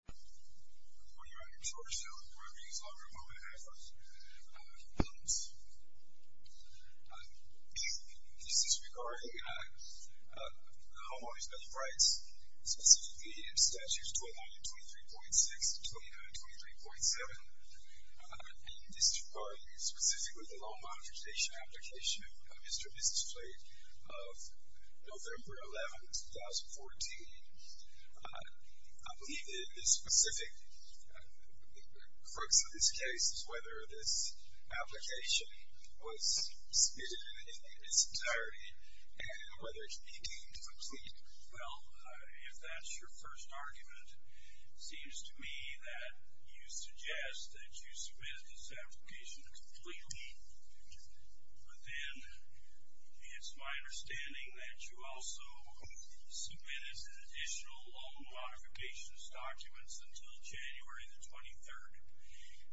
I'm calling you out here in Georgetown. We're going to be here as long as we're moving ahead, folks. This is regarding the homeowners' benefits rights, specifically in Statutes 29 and 23.6, 29 and 23.7. And this is regarding specifically the law monetization application of Mr. Business Flate of November 11, 2014. I believe that the specific focus of this case is whether this application was submitted in its entirety and whether it can be deemed complete. Well, if that's your first argument, it seems to me that you suggest that you submitted this application completely. But then, it's my understanding that you also submitted additional law modifications documents until January the 23rd.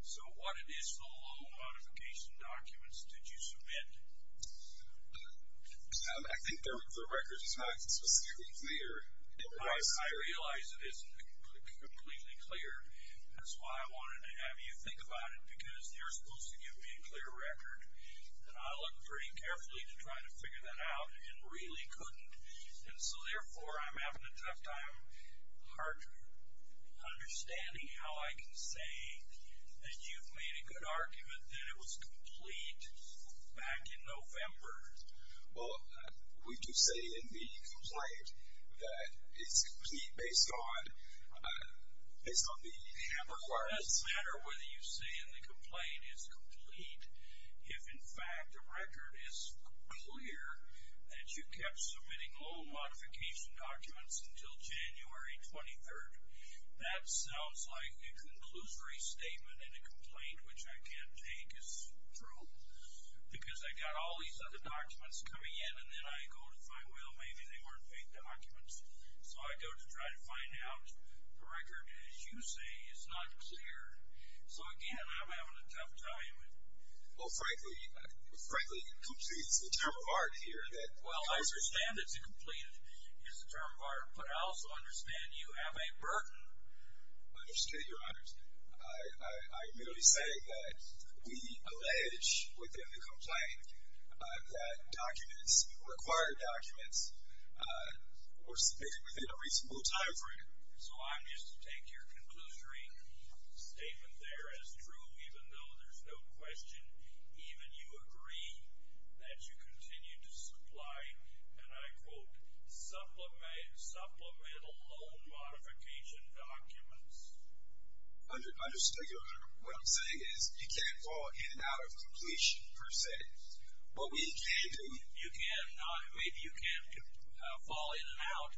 So what additional law modification documents did you submit? I think the record is not specifically clear. I realize it isn't completely clear. That's why I wanted to have you think about it, because you're supposed to give me a clear record. And I looked pretty carefully to try to figure that out and really couldn't. And so, therefore, I'm having a tough time understanding how I can say that you've made a good argument that it was complete back in November. Well, we do say in the complaint that it's complete based on the hammer requirements. It doesn't matter whether you say in the complaint it's complete. If, in fact, the record is clear that you kept submitting law modification documents until January 23rd, that sounds like a conclusory statement in a complaint, which I can't take as true. Because I got all these other documents coming in, and then I go to find, well, maybe they weren't fake documents. So I go to try to find out. The record, as you say, is not clear. So, again, I'm having a tough time. Well, frankly, complete is the term of art here. Well, I understand that complete is the term of art, but I also understand you have a burden. I understand, Your Honors. I merely say that we allege within the complaint that documents, required documents, were submitted within a reasonable time frame. So I'm just to take your conclusory statement there as true, even though there's no question, even you agree that you continue to supply, and I quote, supplemental loan modification documents. I just take it under, what I'm saying is you can't fall in and out of completion, per se. What we can do. You can, maybe you can fall in and out,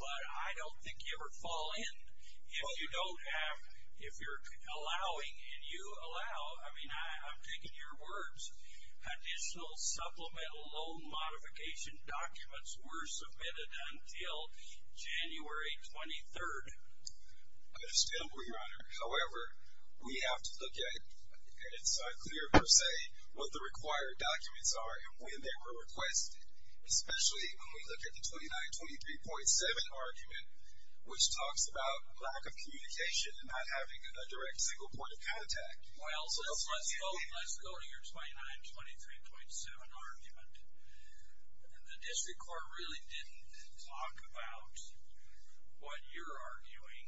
but I don't think you ever fall in if you don't have, if you're allowing, and you allow. I mean, I'm taking your words. Additional supplemental loan modification documents were submitted until January 23rd. I understand, Your Honor. However, we have to look at it. It's unclear, per se, what the required documents are and when they were requested, especially when we look at the 2923.7 argument, which talks about lack of communication and not having a direct single point of contact. Well, let's go to your 2923.7 argument. The district court really didn't talk about what you're arguing,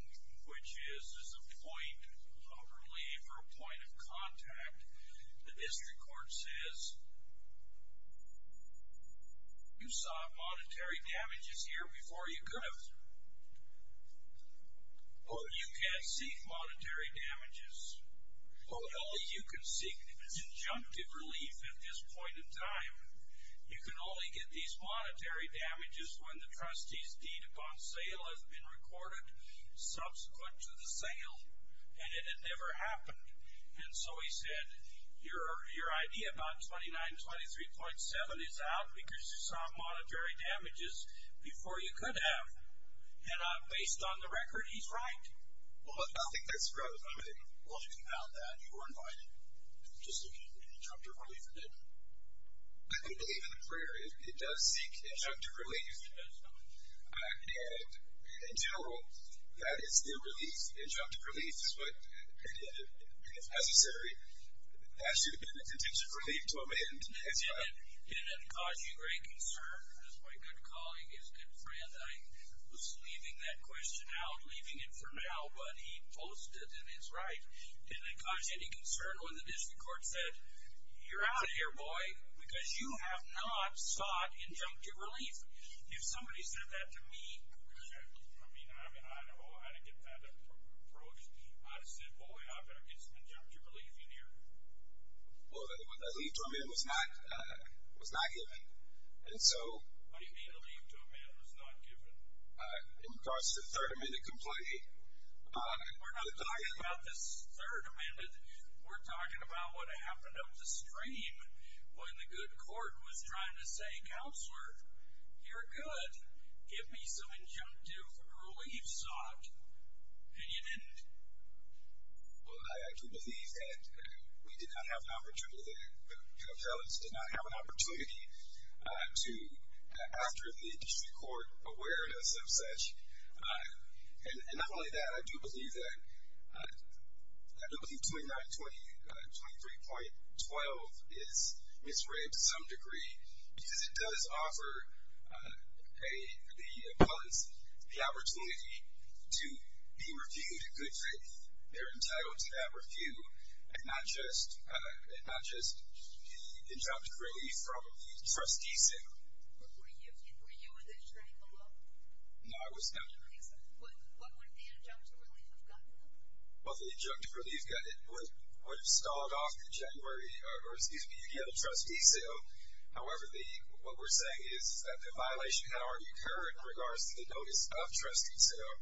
which is a point of relief or a point of contact. The district court says, you saw monetary damages here before you could have. You can't seek monetary damages. Only you can seek conjunctive relief at this point in time. You can only get these monetary damages when the trustee's deed upon sale has been recorded subsequent to the sale, and it had never happened. And so he said, your idea about 2923.7 is out because you saw monetary damages before you could have. And based on the record, he's right? Well, I think that's correct. Well, you can count that. You were invited. Just looking at the conjunctive relief. I do believe in the prayer. It does seek conjunctive relief. And in general, that is the relief. Conjunctive relief is what, if necessary, has to have been a contingent relief to amend as well. Did it cause you great concern? As my good colleague, his good friend, I was leaving that question out, leaving it for now. But he boasted, and he's right. Did it cause any concern when the district court said, you're out of here, boy, because you have not sought conjunctive relief? If somebody said that to me. I mean, I know I didn't get that approach. I said, boy, I better get some conjunctive relief in here. Well, the leave to amend was not given. What do you mean the leave to amend was not given? It caused the third amendment complaint. We're not talking about this third amendment. We're talking about what happened up the stream when the good court was trying to say, Counselor, you're good. Give me some conjunctive relief sought. And you didn't. Well, I do believe that we did not have an opportunity there. The appellants did not have an opportunity to, after the district court awareness of such. And not only that, I do believe that 2923.12 is misread to some degree because it does offer the appellants the opportunity to be reviewed in good faith. They're entitled to that review and not just the injunctive relief from the trustee sale. Were you in the training below? No, I was not. What would the injunctive relief have gotten them? Well, the injunctive relief would have stalled off in January, or excuse me, if you get a trustee sale. However, what we're saying is that the violation had already occurred in regards to the notice of trustee sale,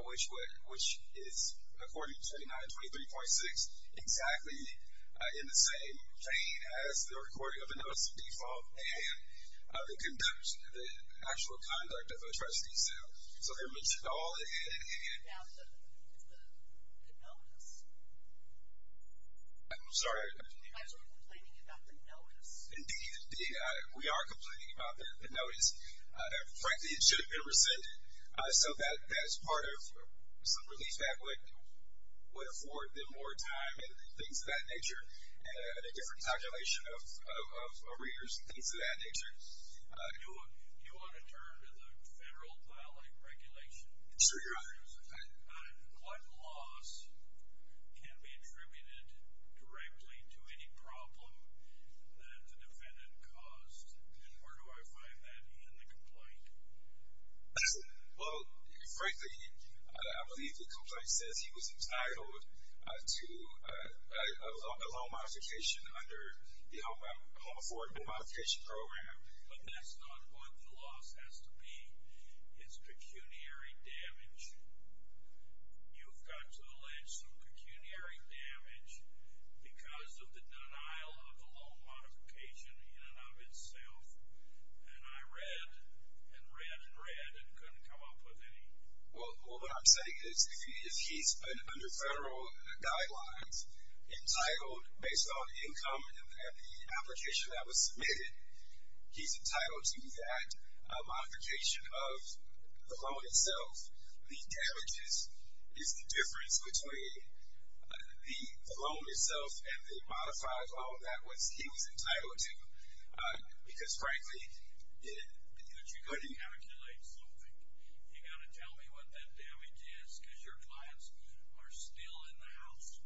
which is, according to 2923.6, exactly in the same vein as the recording of the notice of default and the conduct, the actual conduct of a trustee sale. So they're mentioned all in hand. It's the notice. I'm sorry. You guys are complaining about the notice. Indeed. We are complaining about the notice. Frankly, it should have been rescinded. So that's part of some relief that would afford them more time and things of that nature and a different calculation of arrears and things of that nature. Do you want to turn to the federal violation regulation? Sure, Your Honor. What loss can be attributed directly to any problem that the defendant caused? And where do I find that in the complaint? Well, frankly, I believe the complaint says he was entitled to a loan modification under the Home Affordable Modification Program. But that's not what the loss has to be. It's pecuniary damage. You've got to allege some pecuniary damage because of the denial of the loan modification in and of itself. And I read and read and read and couldn't come up with any. Well, what I'm saying is if he's under federal guidelines, entitled based on income and the application that was submitted, he's entitled to that modification of the loan itself. The damages is the difference between the loan itself and the modified loan. That was he was entitled to because, frankly, you couldn't calculate something. You got to tell me what that damage is because your clients are still in the house.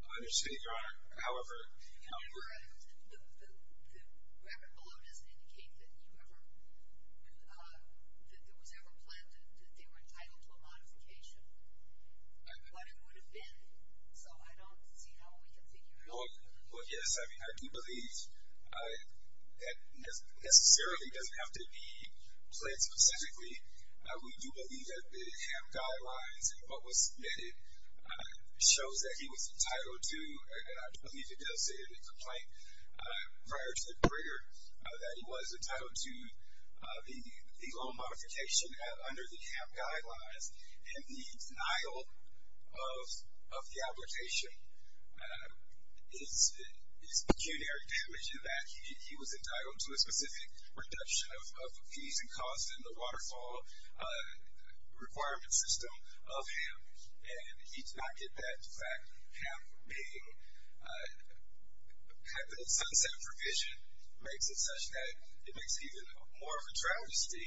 I understand, Your Honor. However, the record below doesn't indicate that there was ever planned that they were entitled to a modification. But it would have been. So I don't see how we can figure it out. Well, yes. I mean, I do believe that necessarily doesn't have to be planned specifically. We do believe that the HAM guidelines and what was submitted shows that he was entitled to, and I believe it does state in the complaint prior to the brigger, that he was entitled to the loan modification under the HAM guidelines. And the denial of the application is pecuniary damage in that he was entitled to a requirement system of HAM, and he did not get that. In fact, HAM being a sunset provision makes it such that it makes it even more of a travesty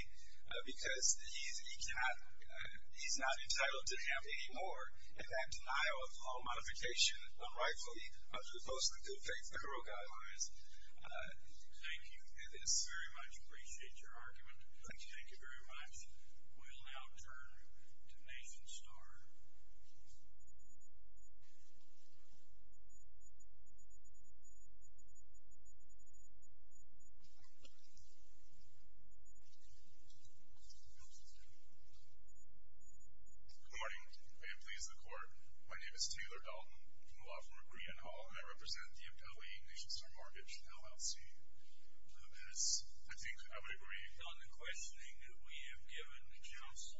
because he's not entitled to HAM anymore, and that denial of loan modification unrightfully under the Post-Legal Faith Federal Guidelines. Thank you. It is. I very much appreciate your argument. Thank you very much. We'll now turn to Nathan Starr. Good morning. May it please the Court. My name is Taylor Dalton. I'm a law firm at Green and Hall, and I represent the MTA Nation Star Mortgage, LLC. Yes, I think I would agree. On the questioning that we have given the counsel,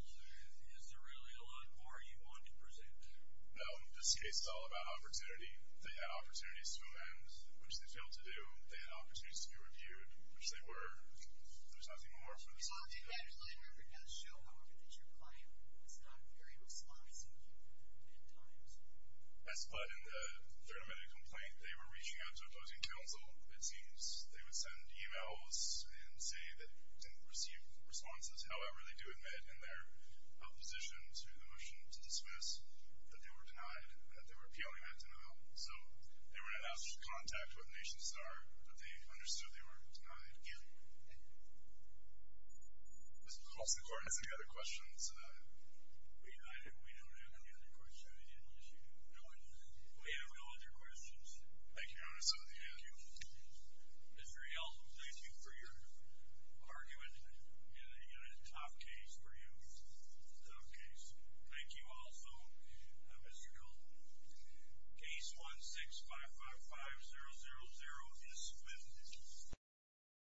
is there really a lot more you want to present there? No. This case is all about opportunity. They had opportunities to amend, which they failed to do. They had opportunities to be reviewed, which they were. There's nothing more for this committee to do. I remember in that show, however, that your client was not very responsive at times. Yes, but in the third amendment complaint, they were reaching out to opposing counsel. It seems they would send e-mails and say that they didn't receive responses. However, they do admit in their opposition to the motion to dismiss that they were denied, that they were appealing that denial. So they were not able to contact what nations there are, but they understood they were denied. Thank you. Mr. Coulson, do you have any other questions? We don't have any other questions. We have no other questions. Thank you, Your Honor. Mr. Yeltsin, thank you for your argument in a tough case for you. Tough case. Thank you also, Mr. Coulson. Case 16-555-000 is submitted.